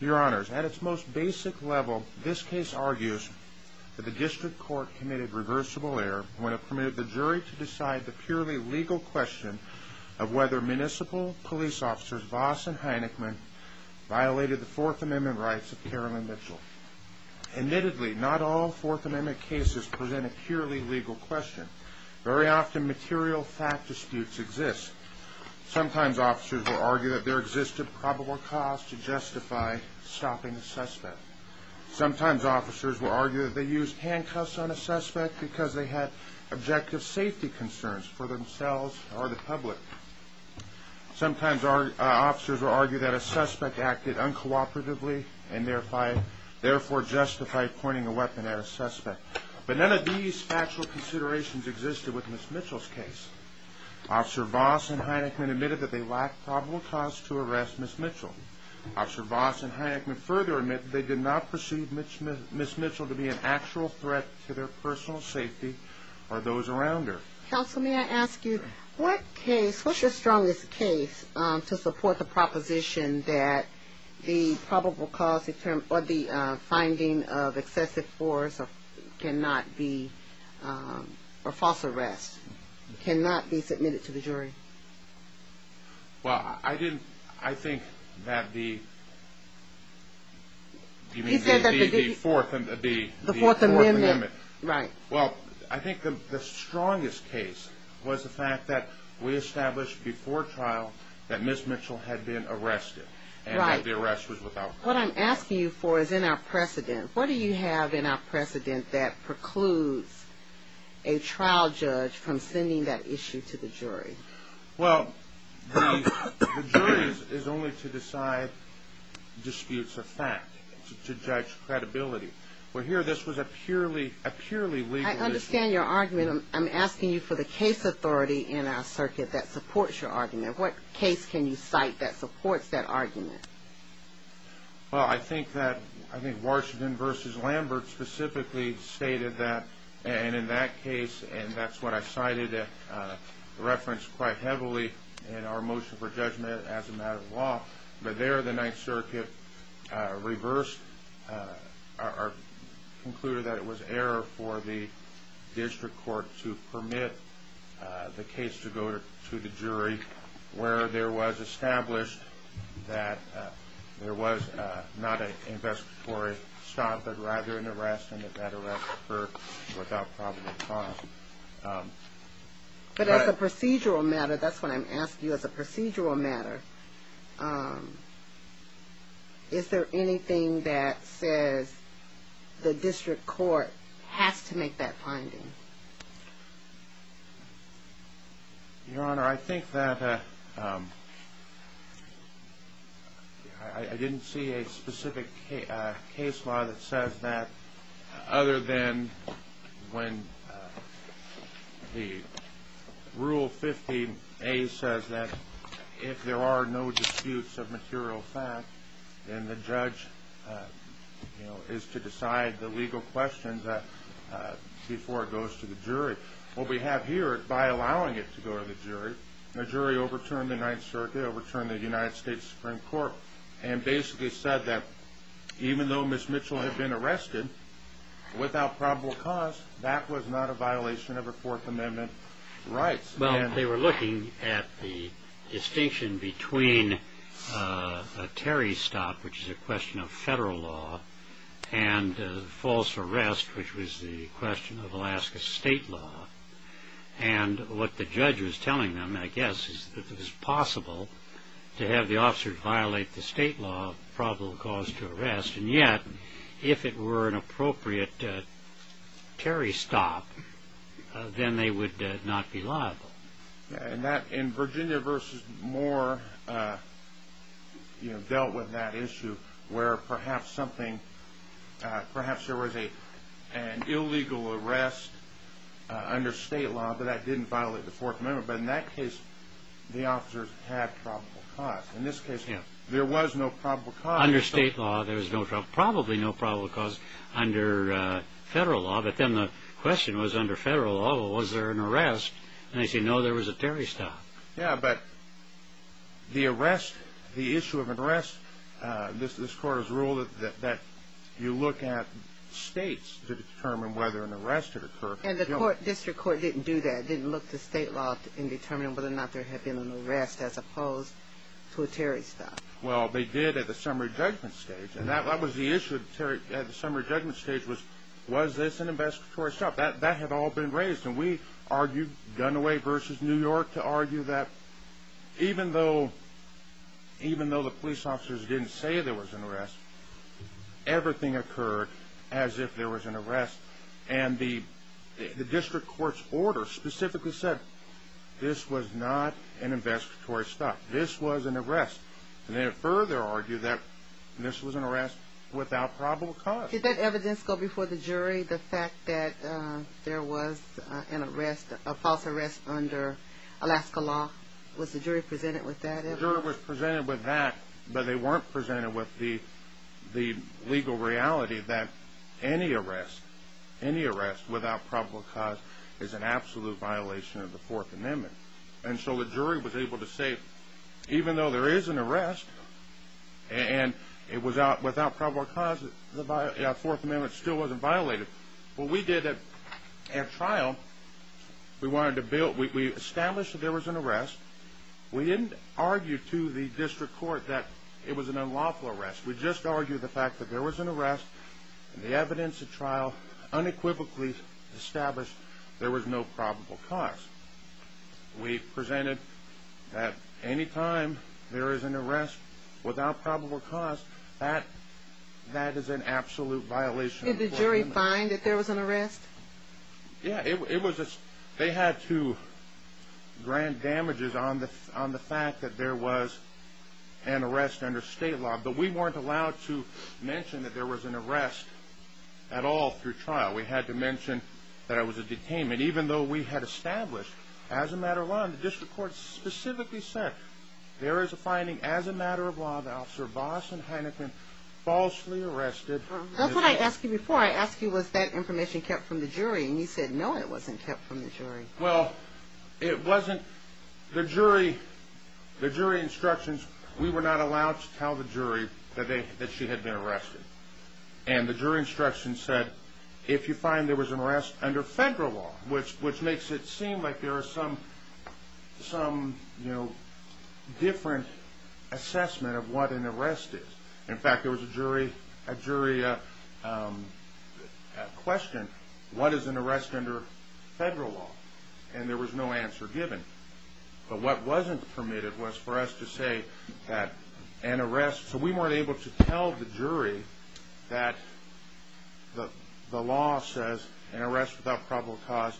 Your Honors, at its most basic level, this case argues that the District Court committed reversible error when it permitted the jury to decide the purely legal question of whether Municipal Police Officers Voss and Heineckman violated the Fourth Amendment rights of Carolyn Mitchell. Admittedly, not all Fourth Amendment cases present a purely legal question. Very often, material fact disputes exist. Sometimes officers will argue that there existed probable cause to justify stopping a suspect. Sometimes officers will argue that they used handcuffs on a suspect because they had objective safety concerns for themselves or the public. Sometimes officers will argue that a suspect acted uncooperatively and therefore justified pointing a weapon at a suspect. But none of these factual considerations existed with Ms. Mitchell's case. Officer Voss and Heineckman admitted that they lacked probable cause to arrest Ms. Mitchell. Officer Voss and Heineckman further admitted that they did not perceive Ms. Mitchell to be an actual threat to their personal safety or those around her. Counsel, may I ask you, what case, what's your strongest case to support the proposition that the probable cause or the finding of excessive force cannot be, or false arrest cannot be submitted to the jury? Well, I didn't, I think that the Fourth Amendment, well, I think the strongest case was the fact that we established before trial that Ms. Mitchell had been arrested and that the arrest was without problem. Well, the jury is only to decide disputes of fact, to judge credibility. Well, here this was a purely, a purely legal issue. I understand your argument. I'm asking you for the case authority in our circuit that supports your argument. What case can you cite that supports that argument? Well, I think that, I think Washington v. Lambert specifically stated that, and in that case, and that's what I cited referenced quite heavily in our motion for judgment as a matter of law, but there the Ninth Circuit reversed, or concluded that it was error for the district court to permit the case to go to the jury, where there was established that there was not an investigatory stop, but rather an arrest, and that that arrest occurred without probable cause. But as a procedural matter, that's what I'm asking you, as a procedural matter, is there anything that says the district court has to make that finding? Your Honor, I think that, I didn't see a specific case law that says that other than when the Rule 15a says that if there are no disputes of material fact, then the judge, you know, is to decide the legal questions before it goes to the jury. What we have here, by allowing it to go to the jury, the jury overturned the Ninth Circuit, overturned the United States Supreme Court, and basically said that even though Ms. Mitchell had been arrested, without probable cause, that was not a violation of her Fourth Amendment rights. Well, they were looking at the distinction between a Terry stop, which is a question of federal law, and false arrest, which was the question of Alaska state law. And what the judge was telling them, I guess, is that it was possible to have the officer violate the state law of probable cause to arrest, and yet, if it were an appropriate Terry stop, then they would not be liable. And Virginia v. Moore dealt with that issue, where perhaps there was an illegal arrest under state law, but that didn't violate the Fourth Amendment. But in that case, the officers had probable cause. In this case, there was no probable cause. Under state law, there was probably no probable cause. Under federal law, but then the question was, under federal law, was there an arrest? And they said, no, there was a Terry stop. Yeah, but the arrest, the issue of arrest, this Court has ruled that you look at states to determine whether an arrest had occurred. And the District Court didn't do that. It didn't look to state law in determining whether or not there had been an arrest, as opposed to a Terry stop. Well, they did at the summary judgment stage, and that was the issue at the summary judgment stage was, was this an investigatory stop? That had all been raised, and we argued, Gunaway v. New York, to argue that even though the police officers didn't say there was an arrest, everything occurred as if there was an arrest. And the District Court's order specifically said this was not an investigatory stop. This was an arrest. And they further argued that this was an arrest without probable cause. Did that evidence go before the jury, the fact that there was an arrest, a false arrest under Alaska law? Was the jury presented with that evidence? Any arrest without probable cause is an absolute violation of the Fourth Amendment. And so the jury was able to say, even though there is an arrest, and it was without probable cause, the Fourth Amendment still wasn't violated. What we did at trial, we established that there was an arrest. We didn't argue to the District Court that it was an unlawful arrest. We just argued the fact that there was an arrest, and the evidence at trial unequivocally established there was no probable cause. We presented that any time there is an arrest without probable cause, that is an absolute violation of the Fourth Amendment. Did the jury find that there was an arrest? Yeah, they had to grant damages on the fact that there was an arrest under state law. But we weren't allowed to mention that there was an arrest at all through trial. We had to mention that it was a detainment, even though we had established, as a matter of law, and the District Court specifically said, there is a finding as a matter of law that Officer Boston Heineken falsely arrested. That's what I asked you before. I asked you, was that information kept from the jury? And you said, no, it wasn't kept from the jury. Well, it wasn't. The jury instructions, we were not allowed to tell the jury that she had been arrested. And the jury instructions said, if you find there was an arrest under federal law, which makes it seem like there is some different assessment of what an arrest is. In fact, there was a jury question, what is an arrest under federal law? And there was no answer given. But what wasn't permitted was for us to say that an arrest, so we weren't able to tell the jury that the law says an arrest without probable cause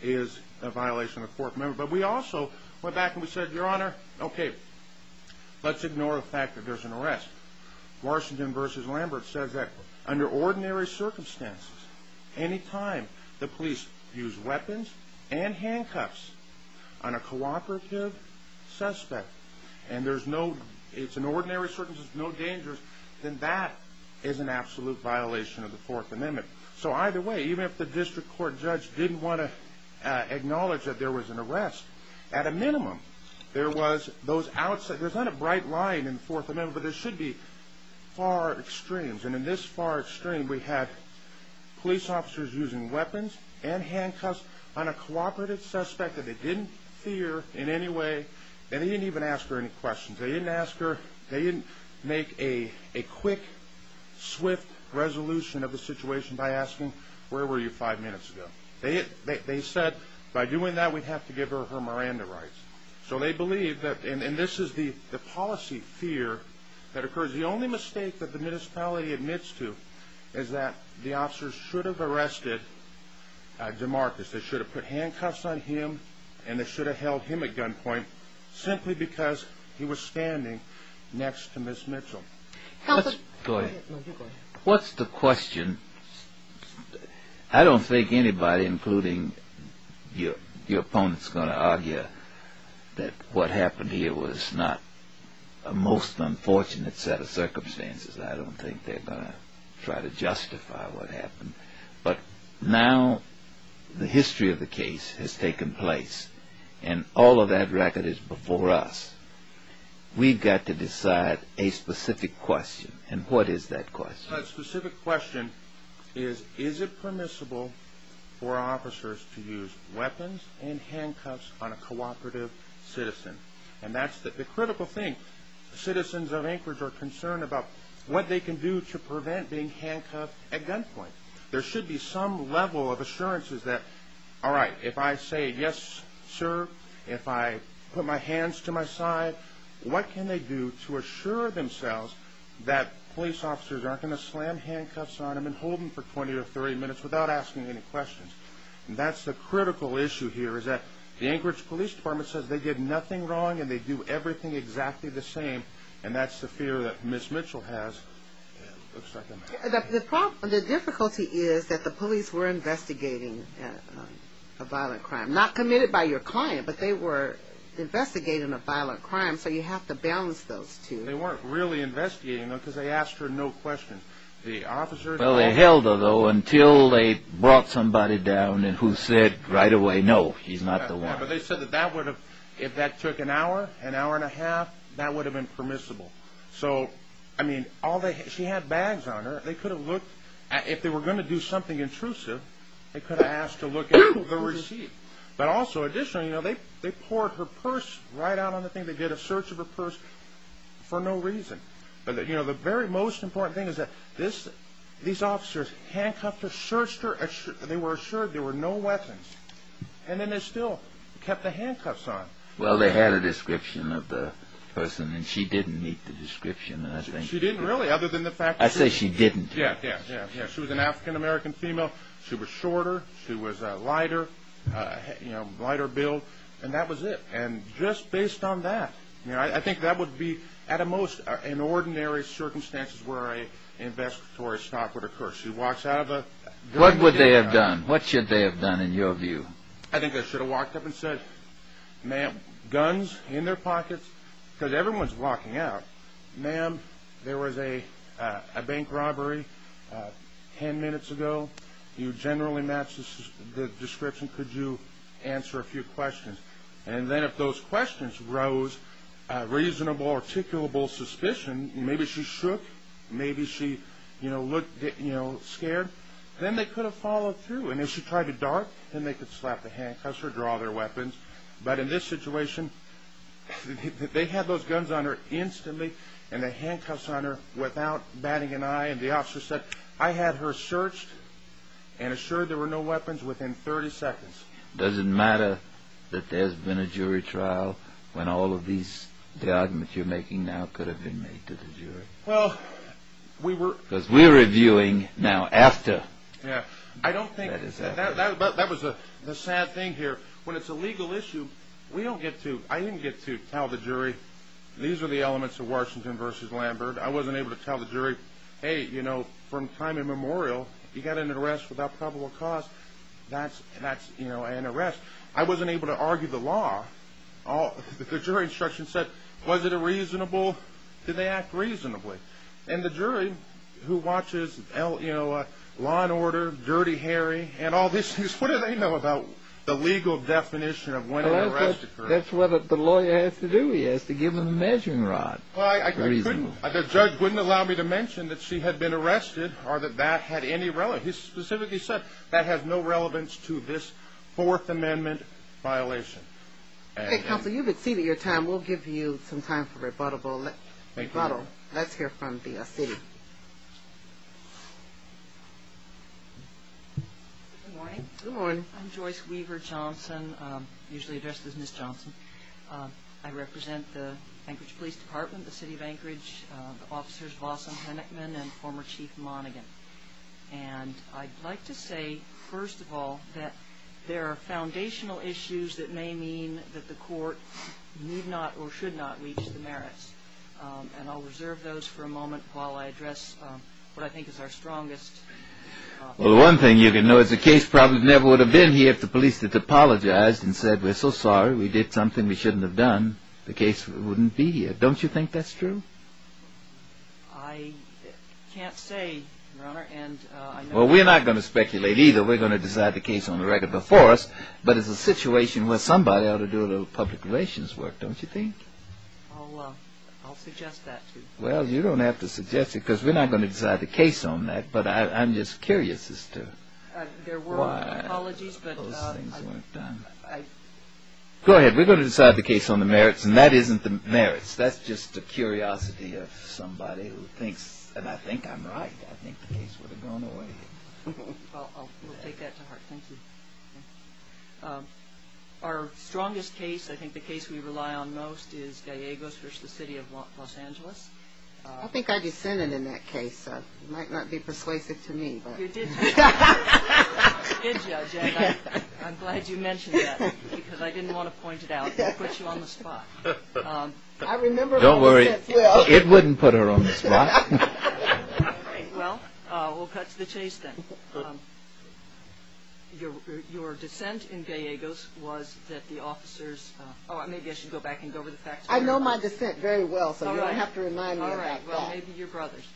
is a violation of the Fourth Amendment. But we also went back and we said, Your Honor, okay, let's ignore the fact that there's an arrest. Washington v. Lambert says that under ordinary circumstances, any time the police use weapons and handcuffs on a cooperative suspect, and it's an ordinary circumstance, no danger, then that is an absolute violation of the Fourth Amendment. So either way, even if the district court judge didn't want to acknowledge that there was an arrest, at a minimum, there was those outside, there's not a bright line in the Fourth Amendment, but there should be far extremes. And in this far extreme, we had police officers using weapons and handcuffs on a cooperative suspect that they didn't fear in any way, and they didn't even ask her any questions. They didn't ask her, they didn't make a quick, swift resolution of the situation by asking, where were you five minutes ago? They said, by doing that, we'd have to give her her Miranda rights. So they believed that, and this is the policy fear that occurs. The only mistake that the municipality admits to is that the officers should have arrested DeMarcus. They should have put handcuffs on him and they should have held him at gunpoint simply because he was standing next to Ms. Mitchell. Go ahead. What's the question? I don't think anybody, including your opponents, are going to argue that what happened here was not a most unfortunate set of circumstances. I don't think they're going to try to justify what happened. But now the history of the case has taken place, and all of that record is before us. We've got to decide a specific question, and what is that question? A specific question is, is it permissible for officers to use weapons and handcuffs on a cooperative citizen? And that's the critical thing. Citizens of Anchorage are concerned about what they can do to prevent being handcuffed at gunpoint. There should be some level of assurances that, all right, if I say, yes, sir, if I put my hands to my side, what can they do to assure themselves that police officers aren't going to slam handcuffs on them and hold them for 20 or 30 minutes without asking any questions? And that's the critical issue here is that the Anchorage Police Department says they did nothing wrong and they do everything exactly the same, and that's the fear that Ms. Mitchell has. The difficulty is that the police were investigating a violent crime. Not committed by your client, but they were investigating a violent crime, so you have to balance those two. They weren't really investigating them because they asked her no questions. Well, they held her, though, until they brought somebody down who said right away, no, he's not the one. Yeah, but they said that if that took an hour, an hour and a half, that would have been permissible. So, I mean, she had bags on her. If they were going to do something intrusive, they could have asked to look at the receipt. But also, additionally, they poured her purse right out on the thing. They did a search of her purse for no reason. The very most important thing is that these officers handcuffed her, searched her, they were assured there were no weapons, and then they still kept the handcuffs on. Well, they had a description of the person, and she didn't meet the description, I think. She didn't really, other than the fact that she... I say she didn't. Yeah, yeah, yeah. She was an African-American female. She was shorter. She was lighter, you know, lighter build, and that was it. And just based on that, you know, I think that would be, at the most, in ordinary circumstances where an investigatory stop would occur. She walks out of a... What would they have done? What should they have done, in your view? I think they should have walked up and said, Ma'am, guns in their pockets, because everyone's walking out. Ma'am, there was a bank robbery ten minutes ago. You generally matched the description. Could you answer a few questions? And then if those questions rose reasonable, articulable suspicion, and maybe she shook, maybe she, you know, looked, you know, scared, then they could have followed through. And if she tried to dart, then they could slap the handcuffs or draw their weapons. But in this situation, they had those guns on her instantly and the handcuffs on her without batting an eye, and the officer said, I had her searched and assured there were no weapons within 30 seconds. Does it matter that there's been a jury trial when all of the arguments you're making now could have been made to the jury? Well, we were... Because we're reviewing now after. Yeah, I don't think... That was the sad thing here. When it's a legal issue, we don't get to... I didn't get to tell the jury, these are the elements of Washington v. Lambert. I wasn't able to tell the jury, Hey, you know, from time immemorial, you got an arrest without probable cause. That's, you know, an arrest. I wasn't able to argue the law. The jury instruction said, was it a reasonable... Did they act reasonably? And the jury, who watches Law & Order, Dirty Harry, and all these things, what do they know about the legal definition of when an arrest occurs? That's what the lawyer has to do. He has to give them a measuring rod. The judge wouldn't allow me to mention that she had been arrested or that that had any relevance. He specifically said that has no relevance to this Fourth Amendment violation. Counsel, you've exceeded your time. We'll give you some time for rebuttal. Let's hear from the city. Good morning. I'm Joyce Weaver Johnson, usually addressed as Ms. Johnson. I represent the Anchorage Police Department, the city of Anchorage, the officers, Lawson Hennickman and former Chief Monaghan. And I'd like to say, first of all, that there are foundational issues that may mean that the court need not or should not reach the merits. And I'll reserve those for a moment while I address what I think is our strongest... Well, one thing you can know is the case probably never would have been here if the police had apologized and said, we're so sorry, we did something we shouldn't have done. The case wouldn't be here. Don't you think that's true? I can't say, Your Honor. Well, we're not going to speculate either. We're going to decide the case on the record before us. But it's a situation where somebody ought to do a little public relations work, don't you think? I'll suggest that to you. Well, you don't have to suggest it because we're not going to decide the case on that. But I'm just curious as to why those things weren't done. Go ahead. We're going to decide the case on the merits, and that isn't the merits. That's just a curiosity of somebody who thinks, and I think I'm right. I think the case would have gone away. Well, we'll take that to heart. Thank you. Our strongest case, I think the case we rely on most, is Gallegos v. The City of Los Angeles. I think I dissented in that case. It might not be persuasive to me, but... I'm glad you mentioned that because I didn't want to point it out. It would put you on the spot. Don't worry. It wouldn't put her on the spot. Well, we'll cut to the chase then. Your dissent in Gallegos was that the officers... Oh, maybe I should go back and go over the facts. I know my dissent very well, so you don't have to remind me of that. All right. Well, maybe your brothers.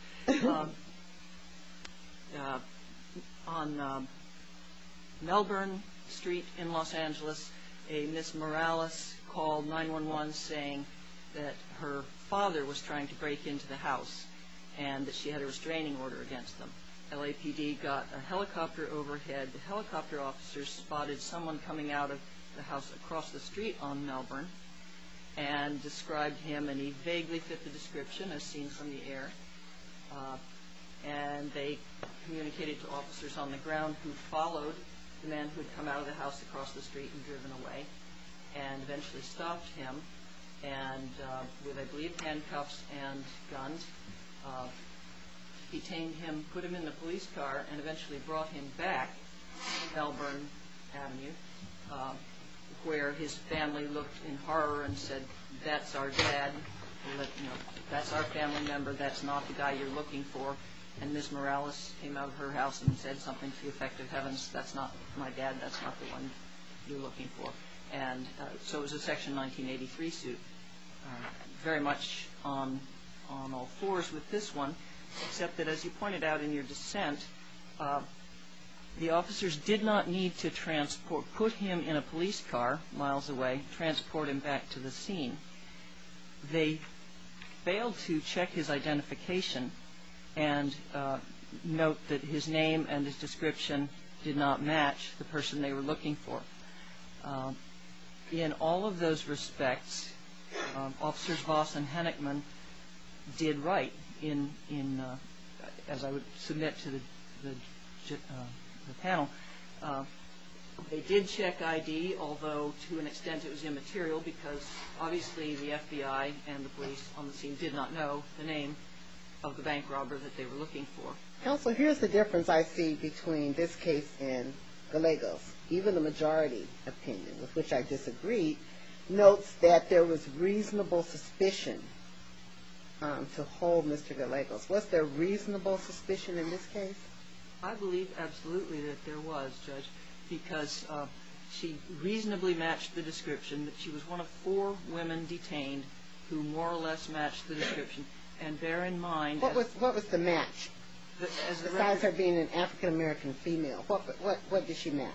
On Melbourne Street in Los Angeles, a Miss Morales called 911 saying that her father was trying to break into the house and that she had a restraining order against them. LAPD got a helicopter overhead. The helicopter officers spotted someone coming out of the house across the street on Melbourne and described him, and he vaguely fit the description as seen from the air. And they communicated to officers on the ground who followed the man who had come out of the house across the street and driven away and eventually stopped him. And with, I believe, handcuffs and guns, detained him, put him in the police car, and eventually brought him back to Melbourne Avenue where his family looked in horror and said, that's our dad, that's our family member, that's not the guy you're looking for. And Miss Morales came out of her house and said something to the effect of heavens, that's not my dad, that's not the one you're looking for. And so it was a Section 1983 suit. Very much on all fours with this one, except that as you pointed out in your dissent, the officers did not need to transport, put him in a police car miles away, transport him back to the scene. They failed to check his identification and note that his name and his description did not match the person they were looking for. In all of those respects, Officers Voss and Hennickman did write in, as I would submit to the panel, they did check ID, although to an extent it was immaterial, because obviously the FBI and the police on the scene did not know the name of the bank robber that they were looking for. Counsel, here's the difference I see between this case and Gallegos. Even the majority opinion, with which I disagree, notes that there was reasonable suspicion to hold Mr. Gallegos. Was there reasonable suspicion in this case? I believe absolutely that there was, Judge, because she reasonably matched the description, that she was one of four women detained who more or less matched the description. What was the match? Besides her being an African-American female, what did she match?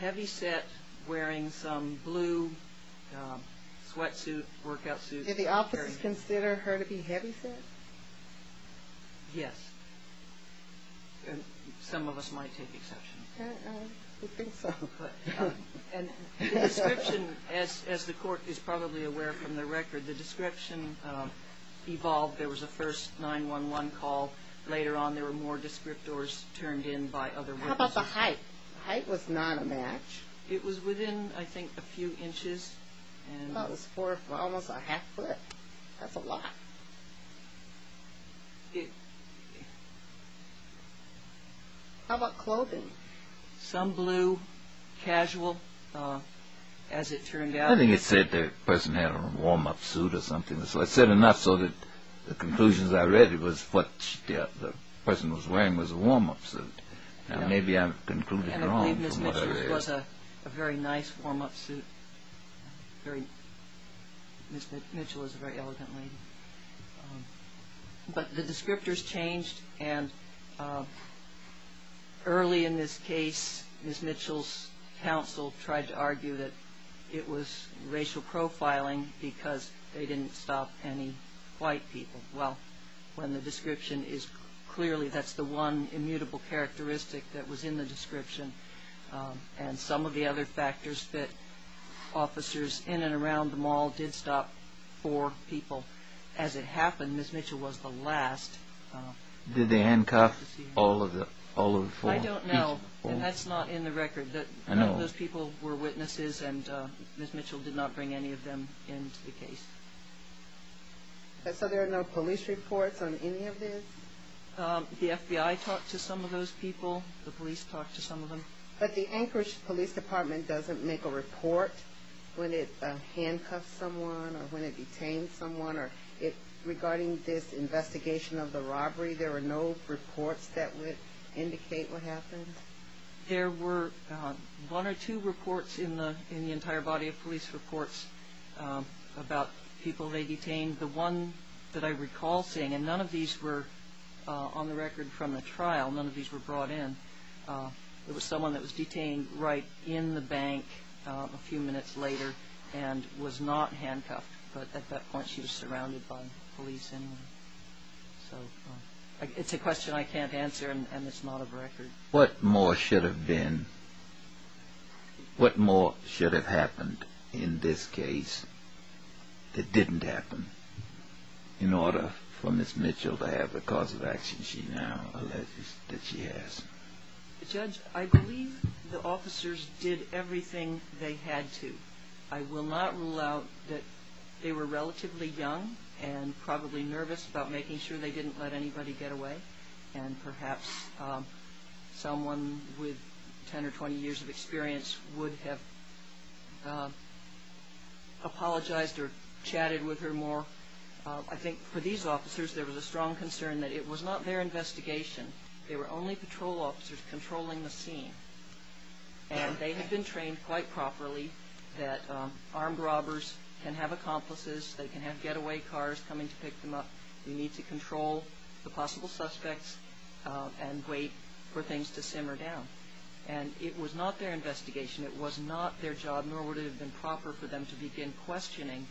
Heavyset, wearing some blue sweatsuit, workout suit. Did the officers consider her to be heavyset? Yes. Some of us might take exception. I think so. The description, as the court is probably aware from the record, the description evolved. There was a first 911 call. Later on there were more descriptors turned in by other women. How about the height? The height was not a match. It was within, I think, a few inches. That was almost a half foot. That's a lot. How about clothing? Some blue, casual, as it turned out. I think it said the person had a warm-up suit or something. I said enough so that the conclusions I read was what the person was wearing was a warm-up suit. Maybe I'm concluding wrong from what I read. I believe Ms. Mitchell was a very nice warm-up suit. Ms. Mitchell was a very elegant lady. But the descriptors changed. Early in this case, Ms. Mitchell's counsel tried to argue that it was racial profiling because they didn't stop any white people. Well, when the description is clearly, that's the one immutable characteristic that was in the description. And some of the other factors that officers in and around the mall did stop four people. As it happened, Ms. Mitchell was the last. Did they handcuff all of the four people? I don't know. That's not in the record. None of those people were witnesses, and Ms. Mitchell did not bring any of them into the case. So there are no police reports on any of this? The FBI talked to some of those people. The police talked to some of them. But the Anchorage Police Department doesn't make a report when it handcuffs someone or when it detains someone regarding this investigation of the robbery? There were no reports that would indicate what happened? There were one or two reports in the entire body of police reports about people they detained. The one that I recall seeing, and none of these were on the record from the trial. None of these were brought in. It was someone that was detained right in the bank a few minutes later and was not handcuffed. But at that point, she was surrounded by police anyway. So it's a question I can't answer, and it's not a record. What more should have happened in this case that didn't happen in order for Ms. Mitchell to have the cause of action she now alleges that she has? Judge, I believe the officers did everything they had to. I will not rule out that they were relatively young and probably nervous about making sure they didn't let anybody get away and perhaps someone with 10 or 20 years of experience would have apologized or chatted with her more. I think for these officers, there was a strong concern that it was not their investigation. They were only patrol officers controlling the scene, and they had been trained quite properly that armed robbers can have accomplices. They can have getaway cars coming to pick them up. We need to control the possible suspects and wait for things to simmer down. And it was not their investigation. It was not their job, nor would it have been proper for them to begin questioning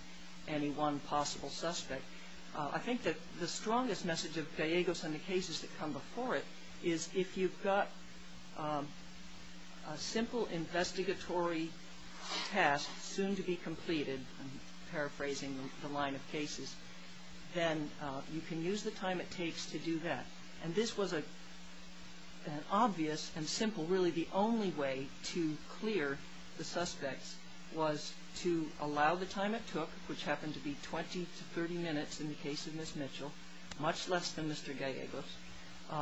any one possible suspect. I think that the strongest message of Diego's and the cases that come before it is if you've got a simple investigatory task soon to be completed, I'm paraphrasing the line of cases, then you can use the time it takes to do that. And this was an obvious and simple, really the only way to clear the suspects was to allow the time it took, which happened to be 20 to 30 minutes in the case of Ms. Mitchell, much less than Mr. Diego's,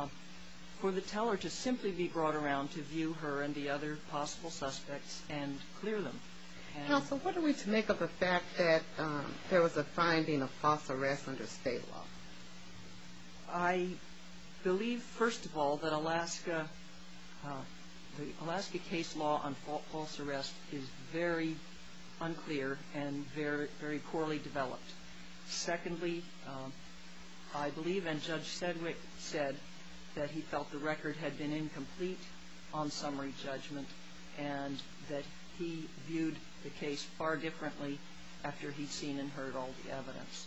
for the teller to simply be brought around to view her and the other possible suspects and clear them. Counsel, what are we to make of the fact that there was a finding of false arrest under state law? I believe, first of all, that Alaska case law on false arrest is very unclear and very poorly developed. Secondly, I believe, and Judge Sedgwick said, that he felt the record had been incomplete on summary judgment and that he viewed the case far differently after he'd seen and heard all the evidence.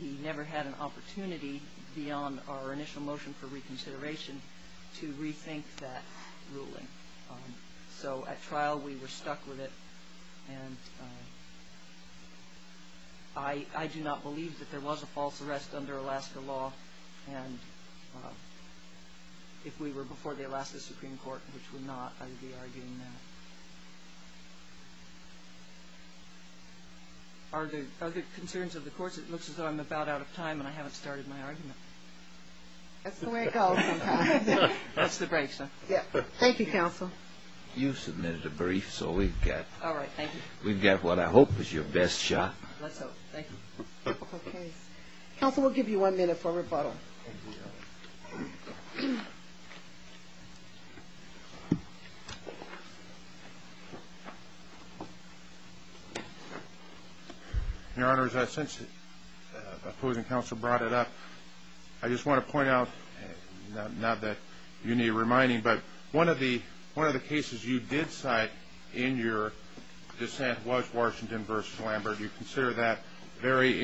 He never had an opportunity beyond our initial motion for reconsideration to rethink that ruling. So at trial we were stuck with it, and I do not believe that there was a false arrest under Alaska law. And if we were before the Alaska Supreme Court, which we're not, I would be arguing that. Are there other concerns of the courts? It looks as though I'm about out of time and I haven't started my argument. That's the way it goes sometimes. That's the break, sir. Thank you, Counsel. You submitted a brief, so we've got what I hope is your best shot. Let's hope. Thank you. Counsel, we'll give you one minute for rebuttal. Thank you, Your Honor. Your Honor, since opposing counsel brought it up, I just want to point out, not that you need reminding, but one of the cases you did cite in your dissent was Washington v. Lambert. You consider that very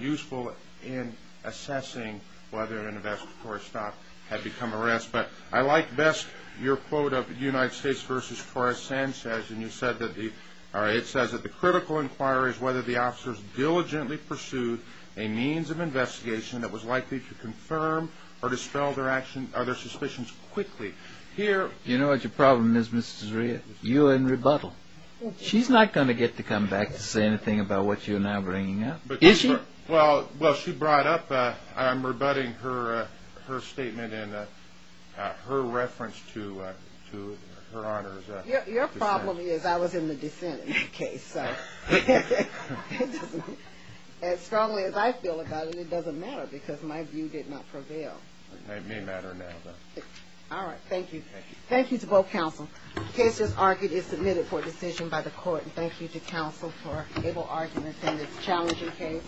useful in assessing whether an investigatory stop had become arrest. But I like best your quote of United States v. Torres Sanchez. And you said that the critical inquiry is whether the officers diligently pursued a means of investigation that was likely to confirm or dispel their suspicions quickly. You know what your problem is, Mrs. Zaria? You and rebuttal. She's not going to get to come back to say anything about what you're now bringing up. Is she? Well, she brought up, I'm rebutting her statement and her reference to Her Honor's dissent. Your problem is I was in the dissent in that case. So as strongly as I feel about it, it doesn't matter because my view did not prevail. It may matter now, though. All right. Thank you. Thank you. Thank you to both counsel. The case as argued is submitted for decision by the court. And thank you to counsel for able argument in this challenging case.